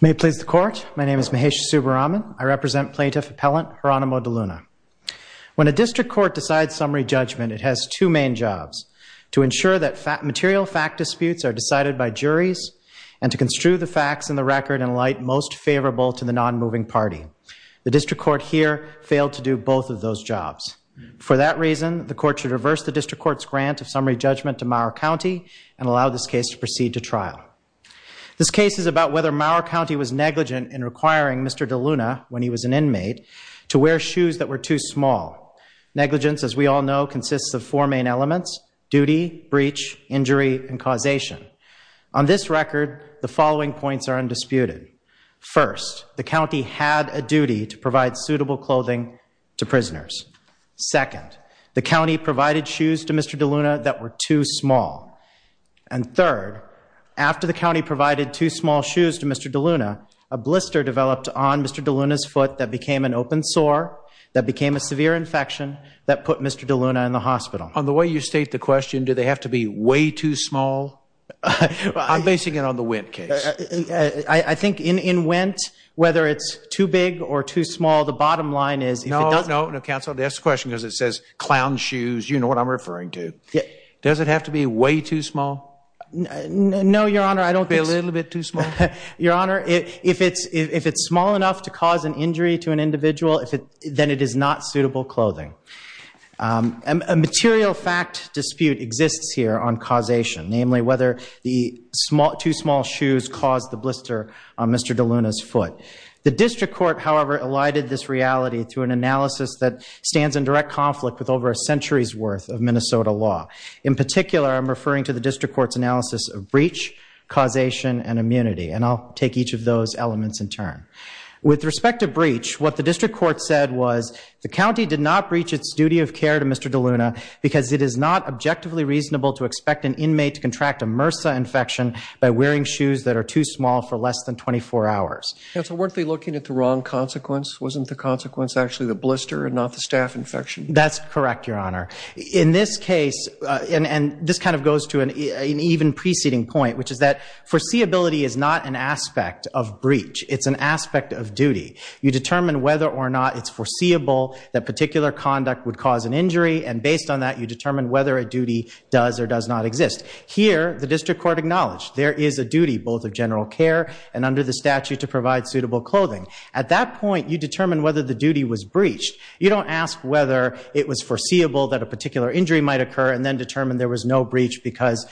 May it please the court. My name is Mahesh Subbaraman. I represent plaintiff appellant Geronimo DeLuna. When a district court decides summary judgment, it has two main jobs. To ensure that material fact disputes are decided by juries and to construe the facts and the both of those jobs. For that reason, the court should reverse the district court's grant of summary judgment to Mower County and allow this case to proceed to trial. This case is about whether Mower County was negligent in requiring Mr. DeLuna, when he was an inmate, to wear shoes that were too small. Negligence, as we all know, consists of four main elements duty, breach, injury, and causation. On this record, the following points are undisputed. First, the county had a duty to provide suitable clothing to prisoners. Second, the county provided shoes to Mr. DeLuna that were too small. And third, after the county provided too small shoes to Mr. DeLuna, a blister developed on Mr. DeLuna's foot that became an open sore, that became a severe infection, that put Mr. DeLuna in the hospital. On the way you state the question, do they have to be way too small? I'm basing it on the Wendt case. I think in Wendt, whether it's too big or too small, the bottom line is if it doesn't... No, no, counsel, that's the question because it says clown shoes, you know what I'm referring to. Does it have to be way too small? No, your honor, I don't think... A little bit too small? Your honor, if it's small enough to cause an injury to an individual, then it is not A material fact dispute exists here on causation, namely whether the too small shoes caused the blister on Mr. DeLuna's foot. The district court, however, elided this reality through an analysis that stands in direct conflict with over a century's worth of Minnesota law. In particular, I'm referring to the district court's analysis of breach, causation, and immunity, and I'll take each of those elements in turn. With respect to breach, what the because it is not objectively reasonable to expect an inmate to contract a MRSA infection by wearing shoes that are too small for less than 24 hours. Counsel, weren't they looking at the wrong consequence? Wasn't the consequence actually the blister and not the staph infection? That's correct, your honor. In this case, and this kind of goes to an even preceding point, which is that foreseeability is not an aspect of breach. It's an aspect of duty. You determine whether or not it's foreseeable that particular conduct would cause an injury, and based on that, you determine whether a duty does or does not exist. Here, the district court acknowledged there is a duty, both of general care and under the statute to provide suitable clothing. At that point, you determine whether the duty was breached. You don't ask whether it was foreseeable that a particular injury might occur and then determine there was no breach because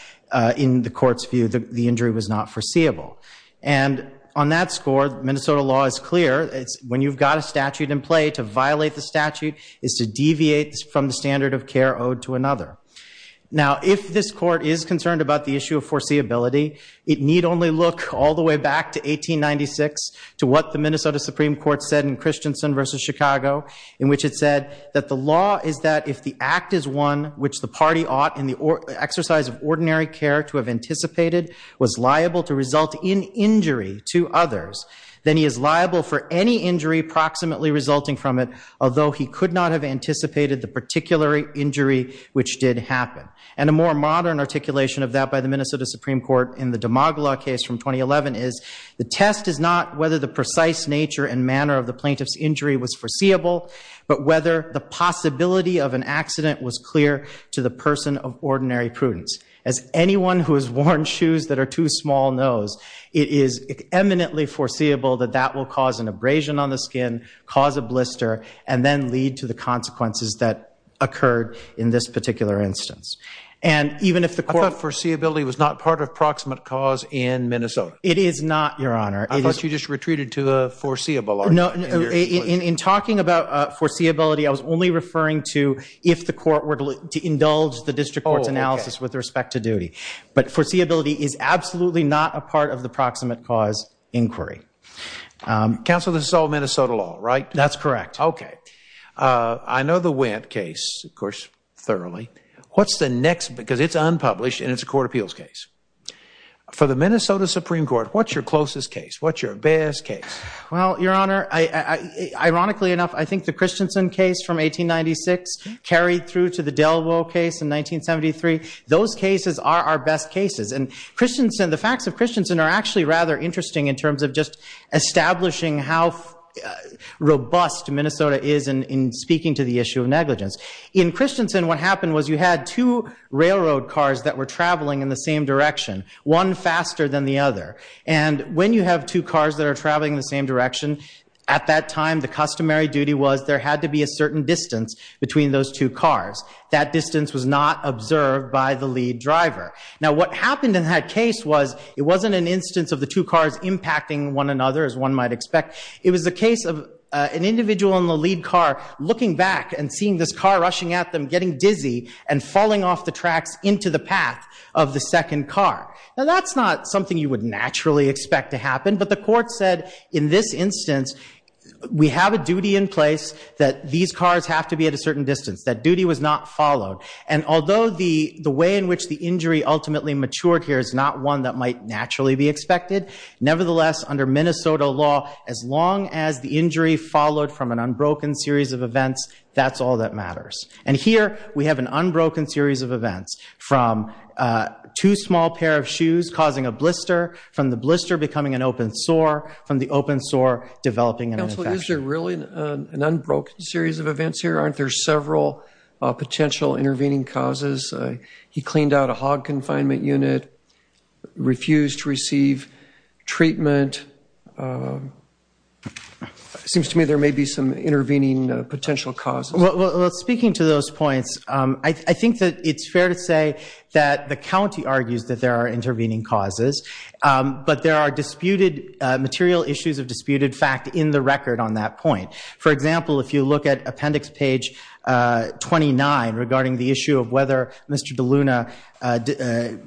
in the court's view, the injury was not foreseeable. And on that score, Minnesota law is clear. When you've got a statute in play, to violate the statute is to deviate from the standard of care owed to another. Now, if this court is concerned about the issue of foreseeability, it need only look all the way back to 1896 to what the Minnesota Supreme Court said in Christensen v. Chicago, in which it said that the law is that if the act is one which the party ought in the exercise of ordinary care to have anticipated was liable to result in injury to others, then he is although he could not have anticipated the particular injury which did happen. And a more modern articulation of that by the Minnesota Supreme Court in the Demagla case from 2011 is, the test is not whether the precise nature and manner of the plaintiff's injury was foreseeable, but whether the possibility of an accident was clear to the person of ordinary prudence. As anyone who has worn shoes that are too small knows, it is eminently foreseeable that that will cause an abrasion on the skin, cause a blister, and then lead to the consequences that occurred in this particular instance. And even if the court- I thought foreseeability was not part of proximate cause in Minnesota. It is not, Your Honor. I thought you just retreated to a foreseeable argument. In talking about foreseeability, I was only referring to if the court were to indulge the district court's analysis with respect to duty. But foreseeability is absolutely not a part of the proximate cause inquiry. Counsel, this is all Minnesota law, right? That's correct. Okay. I know the Wendt case, of course, thoroughly. What's the next- because it's unpublished and it's a court appeals case. For the Minnesota Supreme Court, what's your closest case? What's your best case? Well, Your Honor, ironically enough, I think the Christensen case from 1896 carried through to the Delwo case in 1973. Those cases are our best cases. And the facts of Christensen are actually rather interesting in terms of just establishing how robust Minnesota is in speaking to the issue of negligence. In Christensen, what happened was you had two railroad cars that were traveling in the same direction, one faster than the other. And when you have two cars that are traveling in the same direction, at that time, the customary duty was there had to be a certain distance between those two cars. That distance was not observed by the lead driver. Now, what happened in that case was it wasn't an instance of the two cars impacting one another, as one might expect. It was a case of an individual in the lead car looking back and seeing this car rushing at them, getting dizzy, and falling off the tracks into the path of the second car. Now, that's not something you would naturally expect to happen. But the court said, in this instance, we have a duty in place that these cars have to be at a certain distance. That duty was not followed. And although the way in which the injury ultimately matured here is not one that might naturally be expected, nevertheless, under Minnesota law, as long as the injury followed from an unbroken series of events, that's all that matters. And here, we have an unbroken series of events, from two small pair of shoes causing a blister, from the blister becoming an open sore, from the open sore developing an infection. Counsel, is there really an unbroken series of events here? Aren't there several potential intervening causes? He cleaned out a hog confinement unit, refused to receive treatment. Seems to me there may be some intervening potential causes. Well, speaking to those points, I think that it's fair to say that the county argues that there are intervening causes. But there are disputed material issues of disputed fact in the record on that point. For example, if you look at appendix page 29 regarding the issue of whether Mr. DeLuna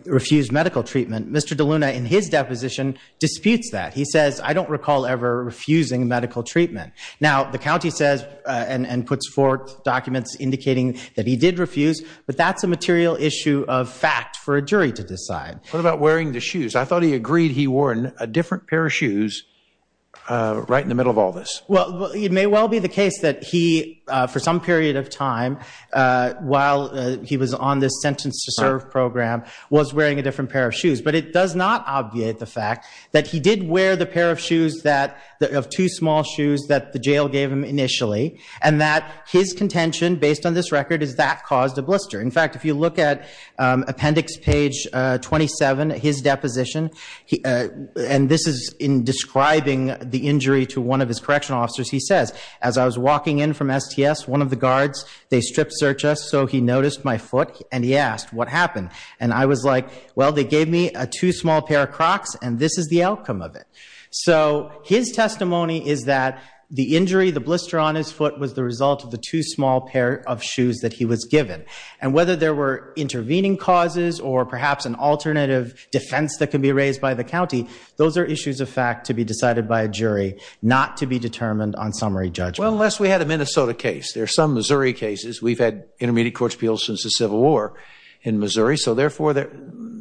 refused medical treatment, Mr. DeLuna, in his deposition, disputes that. He says, I don't recall ever refusing medical treatment. Now, the county says and puts forth documents indicating that he did refuse, but that's a material issue of fact for a jury to decide. What about wearing the shoes? I thought he agreed he wore a different pair of shoes right in the middle of all this. Well, it may well be the case that he, for some period of time, while he was on this sentence to serve program, was wearing a different pair of shoes. But it does not obviate the fact that he did wear the pair of shoes, of two small shoes, that the jail gave him initially, and that his contention, based on this record, is that caused a blister. In fact, if you look at appendix page 27, his deposition, and this is in describing the injury to one of his correctional officers, he says, as I was walking in from STS, one of the guards, they strip searched us, so he noticed my foot, and he asked, what happened? And I was like, well, they gave me a two small pair of Crocs, and this is the outcome of it. So his testimony is that the injury, the blister on his foot, was the result of the two small pair of shoes that he was given. And whether there were intervening causes, or perhaps an alternative defense that can be raised by the county, those are issues of fact to be decided by a jury, not to be determined on summary judgment. Well, unless we had a Minnesota case. There's some Missouri cases. We've had intermediate court appeals since the Civil War in Missouri. So therefore,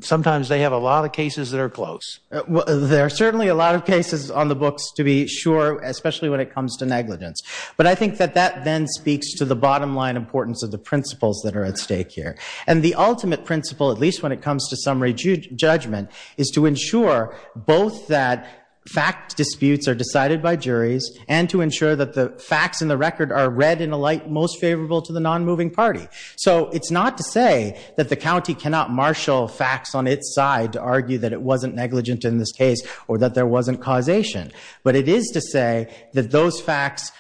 sometimes they have a lot of cases that are close. There are certainly a lot of cases on the books, to be sure, especially when it comes to negligence. But I think that that then speaks to the bottom line importance of the principles that are at stake here. And the ultimate principle, at least when it comes to summary judgment, is to ensure both that fact disputes are decided by juries, and to ensure that the facts in the record are read in a light most favorable to the non-moving party. So it's not to say that the county cannot marshal facts on its side to argue that it wasn't negligent in this case, or that there wasn't causation. But it is to say that those facts,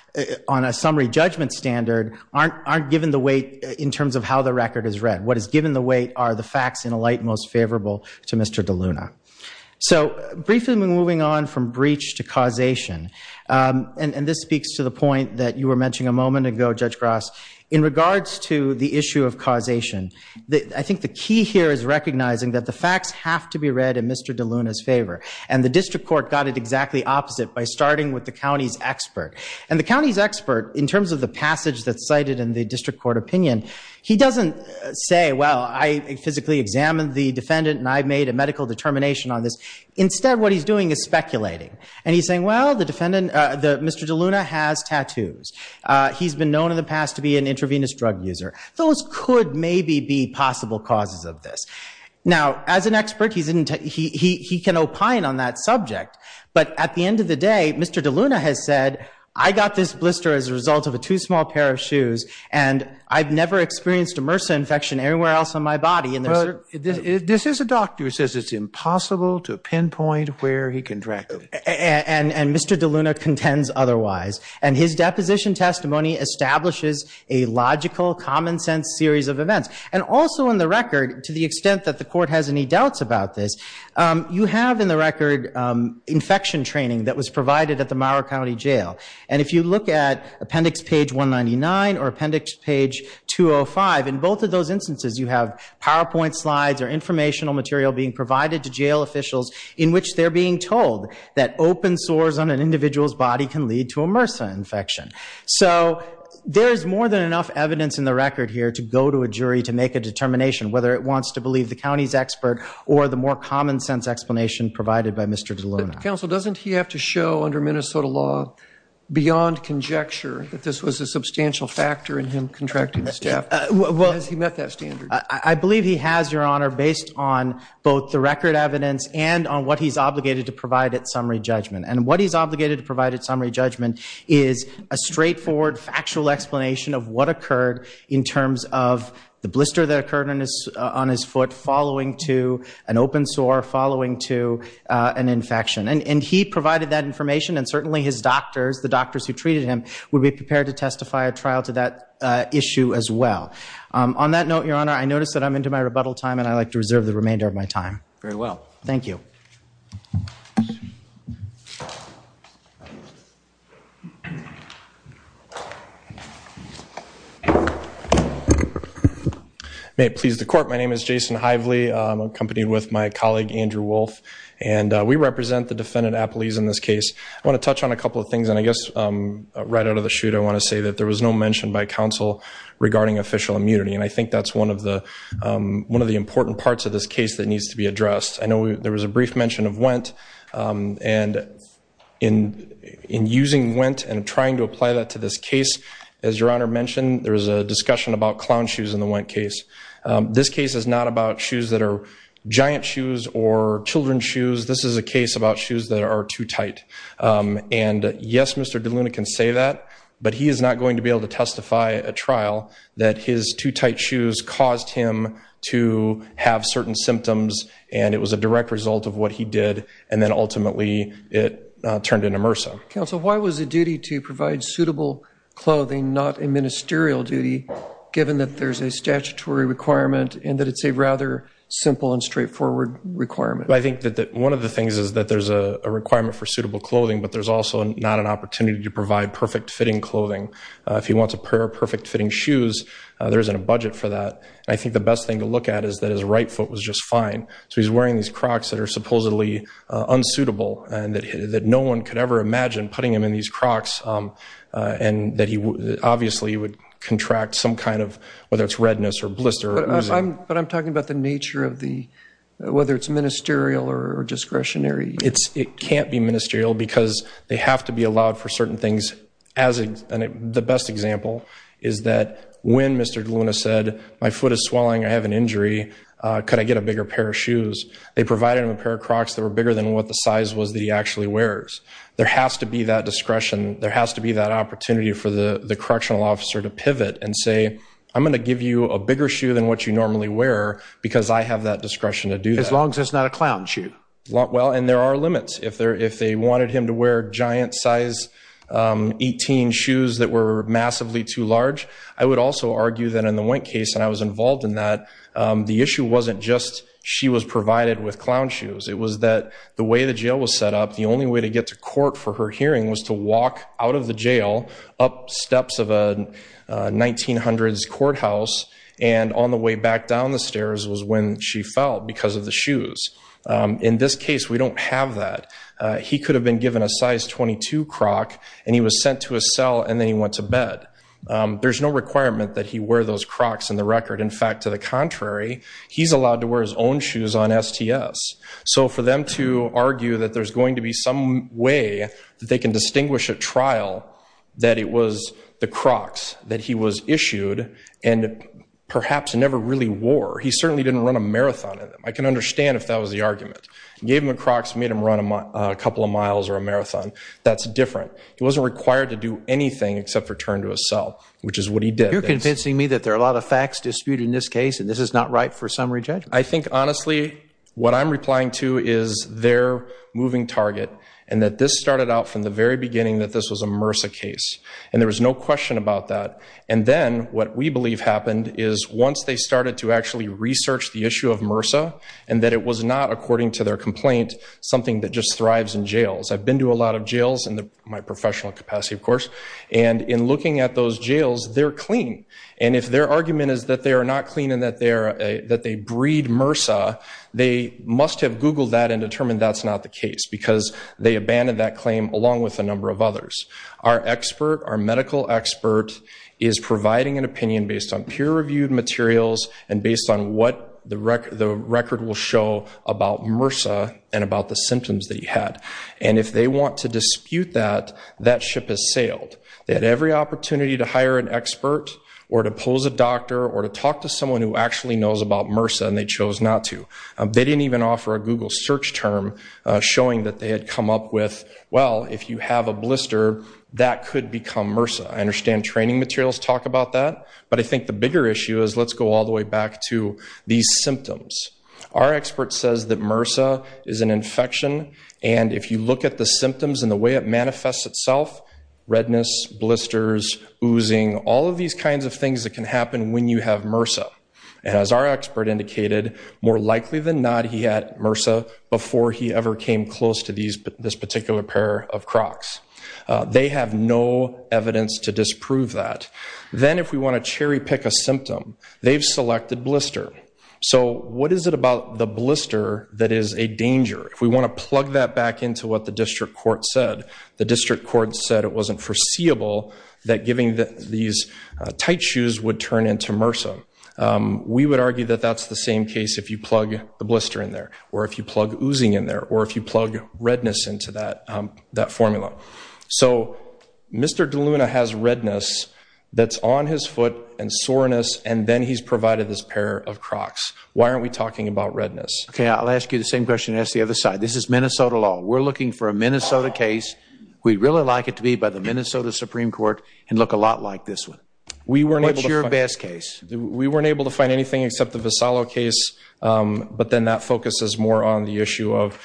on a summary judgment standard, aren't given the weight in terms of how the record is read. What is given the weight are the facts in a light most favorable to Mr. DeLuna. So briefly moving on from breach to causation, and this speaks to the point that you were mentioning a moment ago, Judge Gross, in regards to the issue of causation. I think the key here is recognizing that the facts have to be read in Mr. DeLuna's favor. And the district court got it exactly opposite by starting with the county's expert. And the county's expert, in terms of the passage that's cited in the district court opinion, he doesn't say, well, I physically examined the defendant, and I made a medical determination on this. Instead, what he's doing is speculating. And he's saying, well, Mr. DeLuna has tattoos. He's been known in the past to be an intravenous drug user. Those could maybe be possible causes of this. Now as an expert, he can opine on that subject. But at the end of the day, Mr. DeLuna has said, I got this blister as a result of a too small pair of shoes, and I've never experienced a MRSA infection anywhere else on my body. This is a doctor who says it's impossible to pinpoint where he contracted it. And Mr. DeLuna contends otherwise. And his deposition testimony establishes a logical, common sense series of events. And also on the record, to the extent that the court has any doubts about this, you have in the record infection training that was provided at the Mauer County Jail. And if you look at appendix page 199 or appendix page 205, in both of those instances you have PowerPoint slides or informational material being provided to jail officials in which they're being told that open sores on an individual's body can lead to a MRSA infection. So there is more than enough evidence in the record here to go to a jury to make a determination whether it wants to believe the county's expert or the more common sense explanation provided by Mr. DeLuna. Counsel, doesn't he have to show under Minnesota law, beyond conjecture, that this was a substantial factor in him contracting the staph? Has he met that standard? I believe he has, Your Honor, based on both the record evidence and on what he's obligated to provide at summary judgment. And what he's obligated to provide at summary judgment is a straightforward, factual explanation of what occurred in terms of the blister that occurred on his foot following to an open sore, following to an infection. And he provided that information, and certainly his doctors, the doctors who treated him, would be prepared to testify at trial to that issue as well. On that note, Your Honor, I notice that I'm into my rebuttal time, and I'd like to reserve the remainder of my time. Very well. Thank you. May it please the court, my name is Jason Hively. I'm accompanied with my colleague, Andrew Wolfe, and we represent the defendant, Appleese, in this case. I want to touch on a couple of things, and I guess right out of the chute, I want to say that there was no mention by counsel regarding official immunity, and I think that's one of the important parts of this case that needs to be addressed. I know there was a brief mention of WENT, and in using WENT and trying to apply that to this case, as Your Honor mentioned, there was a discussion about clown shoes in the WENT case. This case is not about shoes that are giant shoes or children's shoes. This is a case about shoes that are too tight. And yes, Mr. De Luna can say that, but he is not going to be able to testify at trial that his too tight shoes caused him to have certain symptoms, and it was a direct result of what he did, and then ultimately it turned into MRSA. Counsel, why was it duty to provide suitable clothing, not a ministerial duty, given that there's a statutory requirement and that it's a rather simple and straightforward requirement? I think that one of the things is that there's a requirement for suitable clothing, but there's also not an opportunity to provide perfect fitting clothing. If he wants a pair of perfect fitting shoes, there isn't a budget for that. I think the best thing to look at is that his right foot was just fine, so he's wearing these Crocs that are supposedly unsuitable and that no one could ever imagine putting him in these Crocs and that he obviously would contract some kind of, whether it's redness or blister. But I'm talking about the nature of the, whether it's ministerial or discretionary. It can't be ministerial because they have to be allowed for certain things. The best example is that when Mr. DeLuna said, my foot is swelling, I have an injury, could I get a bigger pair of shoes, they provided him a pair of Crocs that were bigger than what the size was that he actually wears. There has to be that discretion. There has to be that opportunity for the correctional officer to pivot and say, I'm going to give you a bigger shoe than what you normally wear because I have that discretion to do that. As long as it's not a clown shoe. Well, and there are limits. If they wanted him to wear giant size 18 shoes that were massively too large, I would also argue that in the Wink case, and I was involved in that, the issue wasn't just she was provided with clown shoes. It was that the way the jail was set up, the only way to get to court for her hearing was to walk out of the jail, up steps of a 1900s courthouse, and on the way back down the stairs was when she fell because of the shoes. In this case, we don't have that. He could have been given a size 22 Croc and he was sent to a cell and then he went to bed. There's no requirement that he wear those Crocs in the record. In fact, to the contrary, he's allowed to wear his own shoes on STS. So for them to argue that there's going to be some way that they can distinguish at trial that it was the Crocs that he was issued and perhaps never really wore. He certainly didn't run a marathon in them. I can understand if that was the argument. He gave him the Crocs, made him run a couple of miles or a marathon. That's different. He wasn't required to do anything except return to a cell, which is what he did. You're convincing me that there are a lot of facts disputed in this case and this is not right for summary judgment. I think honestly what I'm replying to is their moving target and that this started out from the very beginning that this was a MRSA case and there was no question about that. And then what we believe happened is once they started to actually research the issue of MRSA and that it was not, according to their complaint, something that just thrives in jails. I've been to a lot of jails in my professional capacity, of course. And in looking at those jails, they're clean. And if their argument is that they are not clean and that they breed MRSA, they must have Googled that and determined that's not the case because they abandoned that claim along with a number of others. Our expert, our medical expert, is providing an opinion based on peer-reviewed materials and based on what the record will show about MRSA and about the symptoms that he had. And if they want to dispute that, that ship has sailed. They had every opportunity to hire an expert or to pose a doctor or to talk to someone who actually knows about MRSA and they chose not to. They didn't even offer a Google search term showing that they had come up with, well, if you have a blister, that could become MRSA. I understand training materials talk about that. But I think the bigger issue is let's go all the way back to these symptoms. Our expert says that MRSA is an infection. And if you look at the symptoms and the way it manifests itself, redness, blisters, oozing, all of these kinds of things that can happen when you have MRSA. As our expert indicated, more likely than not, he had MRSA before he ever came close to this particular pair of Crocs. They have no evidence to disprove that. Then if we want to cherry pick a symptom, they've selected blister. So what is it about the blister that is a danger? If we want to plug that back into what the district court said, the district court said it wasn't foreseeable that giving these tight shoes would turn into MRSA. We would argue that that's the same case if you plug the blister in there or if you plug oozing in there or if you plug redness into that formula. So Mr. DeLuna has redness that's on his foot and soreness and then he's provided this pair of Crocs. Why aren't we talking about redness? Okay, I'll ask you the same question and ask the other side. This is Minnesota law. We're looking for a Minnesota case. We'd really like it to be by the Minnesota Supreme Court and look a lot like this one. What's your best case? We weren't able to find anything except the Vassallo case. But then that focuses more on the issue of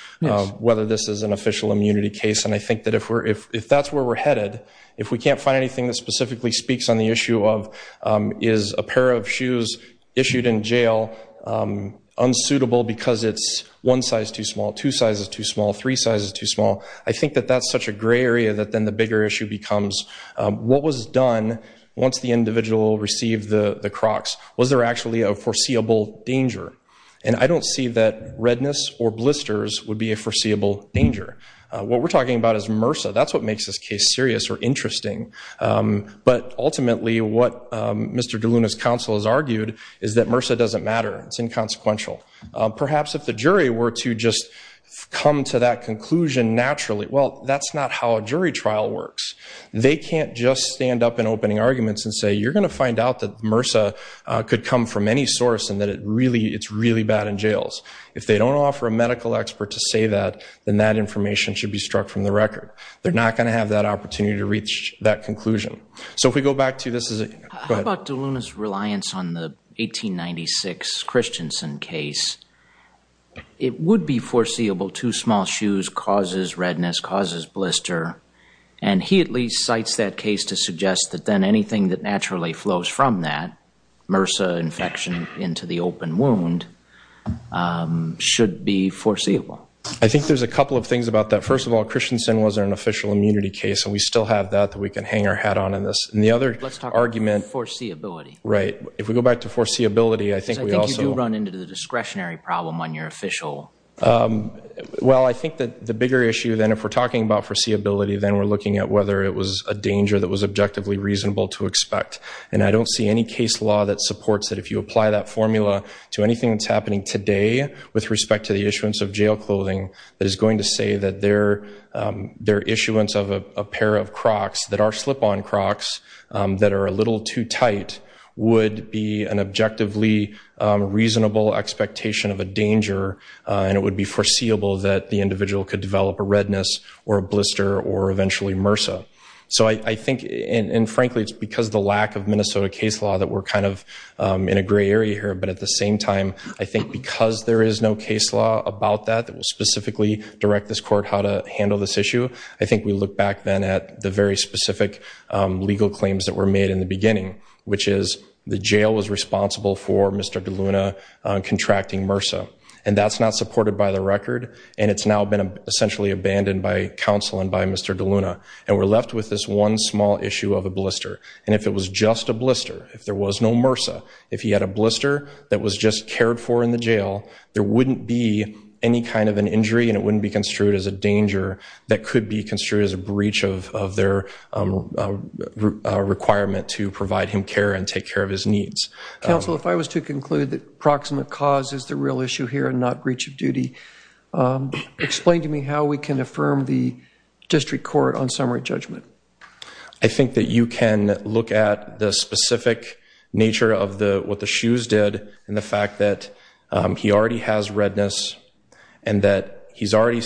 whether this is an official immunity case. And I think that if that's where we're headed, if we can't find anything that specifically speaks on the issue of is a pair of shoes issued in jail unsuitable because it's one size too small, two sizes too small, three sizes too small, I think that that's such a gray area that then the bigger issue becomes what was done once the individual received the Crocs? Was there actually a foreseeable danger? And I don't see that redness or blisters would be a foreseeable danger. What we're talking about is MRSA. That's what makes this case serious or interesting. But ultimately what Mr. DeLuna's counsel has argued is that MRSA doesn't matter. It's inconsequential. Perhaps if the jury were to just come to that conclusion naturally, well that's not how a jury trial works. They can't just stand up in opening arguments and say you're going to find out that MRSA could come from any source and that it's really bad in jails. If they don't offer a medical expert to say that, then that information should be struck from the record. They're not going to have that opportunity to reach that conclusion. So if we go back to this is a, go ahead. How about DeLuna's reliance on the 1896 Christensen case? It would be foreseeable two small shoes causes redness, causes blister, and he at least cites that case to suggest that then anything that naturally flows from that, MRSA infection into the open wound, should be foreseeable. I think there's a couple of things about that. First of all, Christensen wasn't an official immunity case and we still have that that we can hang our hat on in this. And the other argument. Foreseeability. Right. If we go back to foreseeability, I think we also. I think you do run into the discretionary problem on your official. Well, I think that the bigger issue then if we're talking about foreseeability, then we're looking at whether it was a danger that was objectively reasonable to expect. And I don't see any case law that supports that if you apply that formula to anything that's happening today with respect to the issuance of jail clothing, that is going to say that their issuance of a pair of Crocs that are slip-on Crocs that are a little too tight would be an objectively reasonable expectation of a danger. And it would be foreseeable that the individual could develop a redness or a blister or eventually MRSA. So I think and frankly, it's because the lack of Minnesota case law that we're kind of in a gray area here, but at the same time, I think because there is no case law about that that will specifically direct this court how to handle this issue. I think we look back then at the very specific legal claims that were made in the beginning, which is the jail was responsible for Mr. DeLuna contracting MRSA. And that's not supported by the record. And it's now been essentially abandoned by counsel and by Mr. DeLuna. And we're left with this one small issue of a blister. And if it was just a blister, if there was no MRSA, if he had a blister that was just cared for in the jail, there wouldn't be any kind of an injury and it wouldn't be construed as a danger that could be construed as a breach of their requirement to provide him care and take care of his needs. Counsel, if I was to conclude that proximate cause is the real issue here and not breach of duty, explain to me how we can affirm the district court on summary judgment. I think that you can look at the specific nature of what the shoes did and the fact that he already has redness and that he's already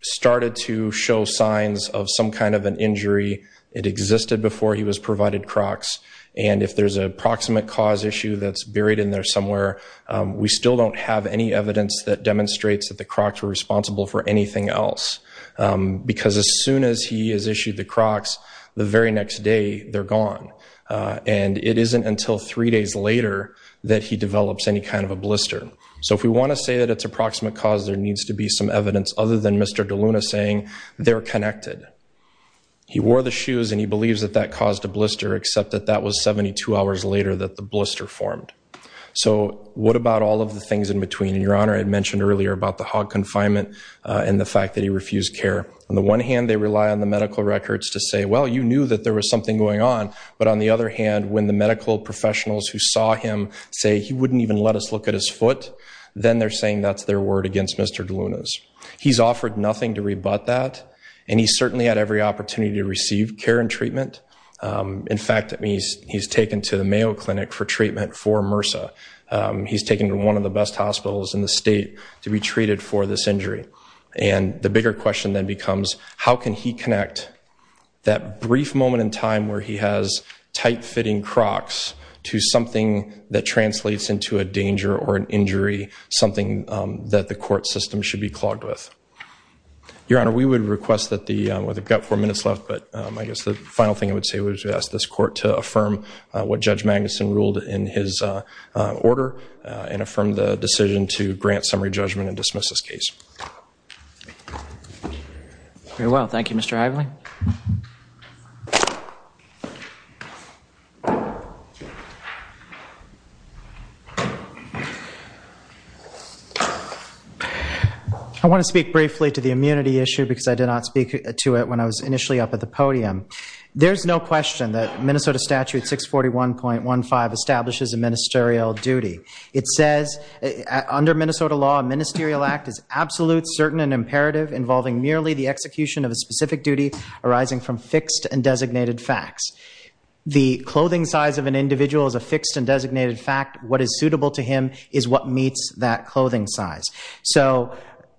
started to show signs of some kind of an injury. It existed before he was provided Crocs. And if there's a proximate cause issue that's buried in there somewhere, we still don't have any evidence that demonstrates that the Crocs were responsible for anything else. Because as soon as he is issued the Crocs, the very next day they're gone. And it isn't until three days later that he develops any kind of a blister. So if we want to say that it's a proximate cause, there needs to be some evidence other than Mr. DeLuna saying they're connected. He wore the shoes and he believes that that caused a blister, except that that was 72 hours later that the blister formed. So what about all of the things in between? And Your Honor, I had mentioned earlier about the hog confinement and the fact that he refused care. On the one hand, they rely on the medical records to say, well, you knew that there was something going on. But on the other hand, when the medical professionals who saw him say he wouldn't even let us look at his foot, then they're saying that's their word against Mr. DeLuna's. He's offered nothing to rebut that. And he's certainly had every opportunity to receive care and treatment. In fact, he's taken to the Mayo Clinic for treatment for MRSA. He's taken to one of the best hospitals in the state to be treated for this injury. And the bigger question then becomes, how can he connect that brief moment in time where he has tight-fitting Crocs to something that translates into a danger or an injury, something that the court system should be clogged with? Your Honor, we would request that the, well, they've got four minutes left. But I guess the final thing I would say would be to ask this court to affirm what Judge Magnuson ruled in his order and affirm the decision to grant summary judgment and dismiss this case. Very well. Thank you, Mr. Ively. Thank you. I want to speak briefly to the immunity issue because I did not speak to it when I was initially up at the podium. There's no question that Minnesota Statute 641.15 establishes a ministerial duty. It says, under Minnesota law, a ministerial act is absolute, certain, and imperative involving merely the execution of a specific duty arising from fixed and designated facts. The clothing size of an individual is a fixed and designated fact. What is suitable to him is what meets that clothing size. So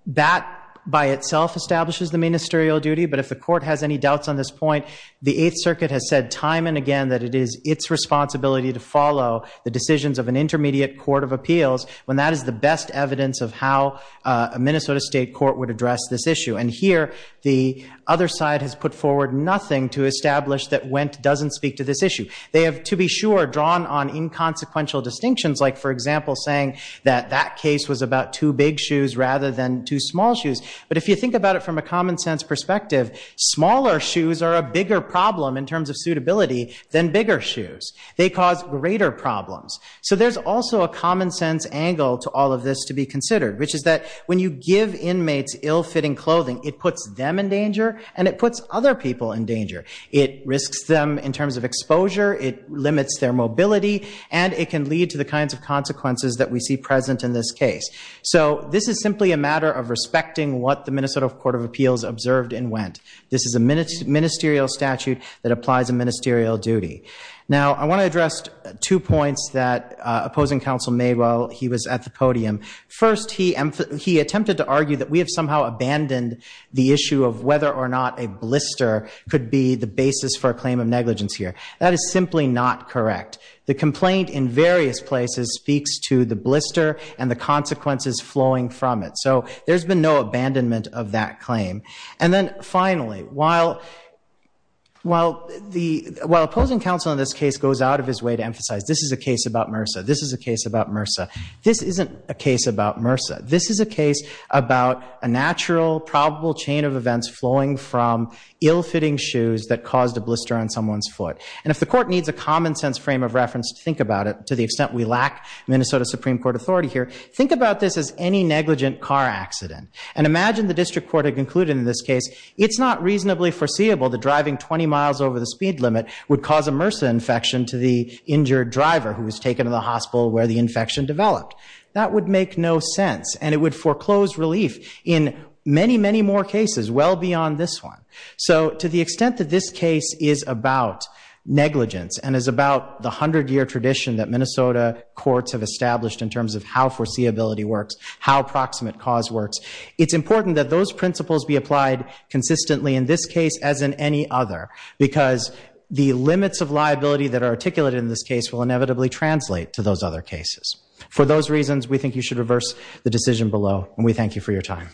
that by itself establishes the ministerial duty. But if the court has any doubts on this point, the Eighth Circuit has said time and again that it is its responsibility to follow the decisions of an intermediate court of appeals when that is the best evidence of how a Minnesota state court would address this issue. And here, the other side has put forward nothing to establish that Wendt doesn't speak to this issue. They have, to be sure, drawn on inconsequential distinctions, like, for example, saying that that case was about two big shoes rather than two small shoes. But if you think about it from a common sense perspective, smaller shoes are a bigger problem in terms of suitability than bigger shoes. They cause greater problems. So there's also a common sense angle to all of this to be considered, which is that when you give inmates ill-fitting clothing, it puts them in danger and it puts other people in danger. It risks them in terms of exposure. It limits their mobility. And it can lead to the kinds of consequences that we see present in this case. So this is simply a matter of respecting what the Minnesota Court of Appeals observed in Wendt. This is a ministerial statute that applies a ministerial duty. Now, I want to address two points that opposing counsel made while he was at the podium. First, he attempted to argue that we have somehow abandoned the issue of whether or not a blister could be the basis for a claim of negligence here. That is simply not correct. The complaint in various places speaks to the blister and the consequences flowing from it. So there's been no abandonment of that claim. And then finally, while opposing counsel in this case goes out of his way to emphasize this is a case about MRSA, this is a case about MRSA, this isn't a case about MRSA. This is a case about a natural, probable chain of events flowing from ill-fitting shoes that caused a blister on someone's foot. And if the court needs a common sense frame of reference to think about it, to the extent we lack Minnesota Supreme Court authority here, think about this as any negligent car accident. And imagine the district court had concluded in this case, it's not reasonably foreseeable that driving 20 miles over the speed limit would cause a MRSA infection to the injured driver who was taken to the hospital where the infection developed. That would make no sense. And it would foreclose relief in many, many more cases, well beyond this one. So to the extent that this case is about negligence and is about the 100-year tradition that Minnesota courts have established in terms of how foreseeability works, how approximate cause works, it's important that those principles be applied consistently in this case as in any other. Because the limits of liability that are articulated in this case will inevitably translate to those other cases. For those reasons, we think you should reverse the decision below. And we thank you for your time.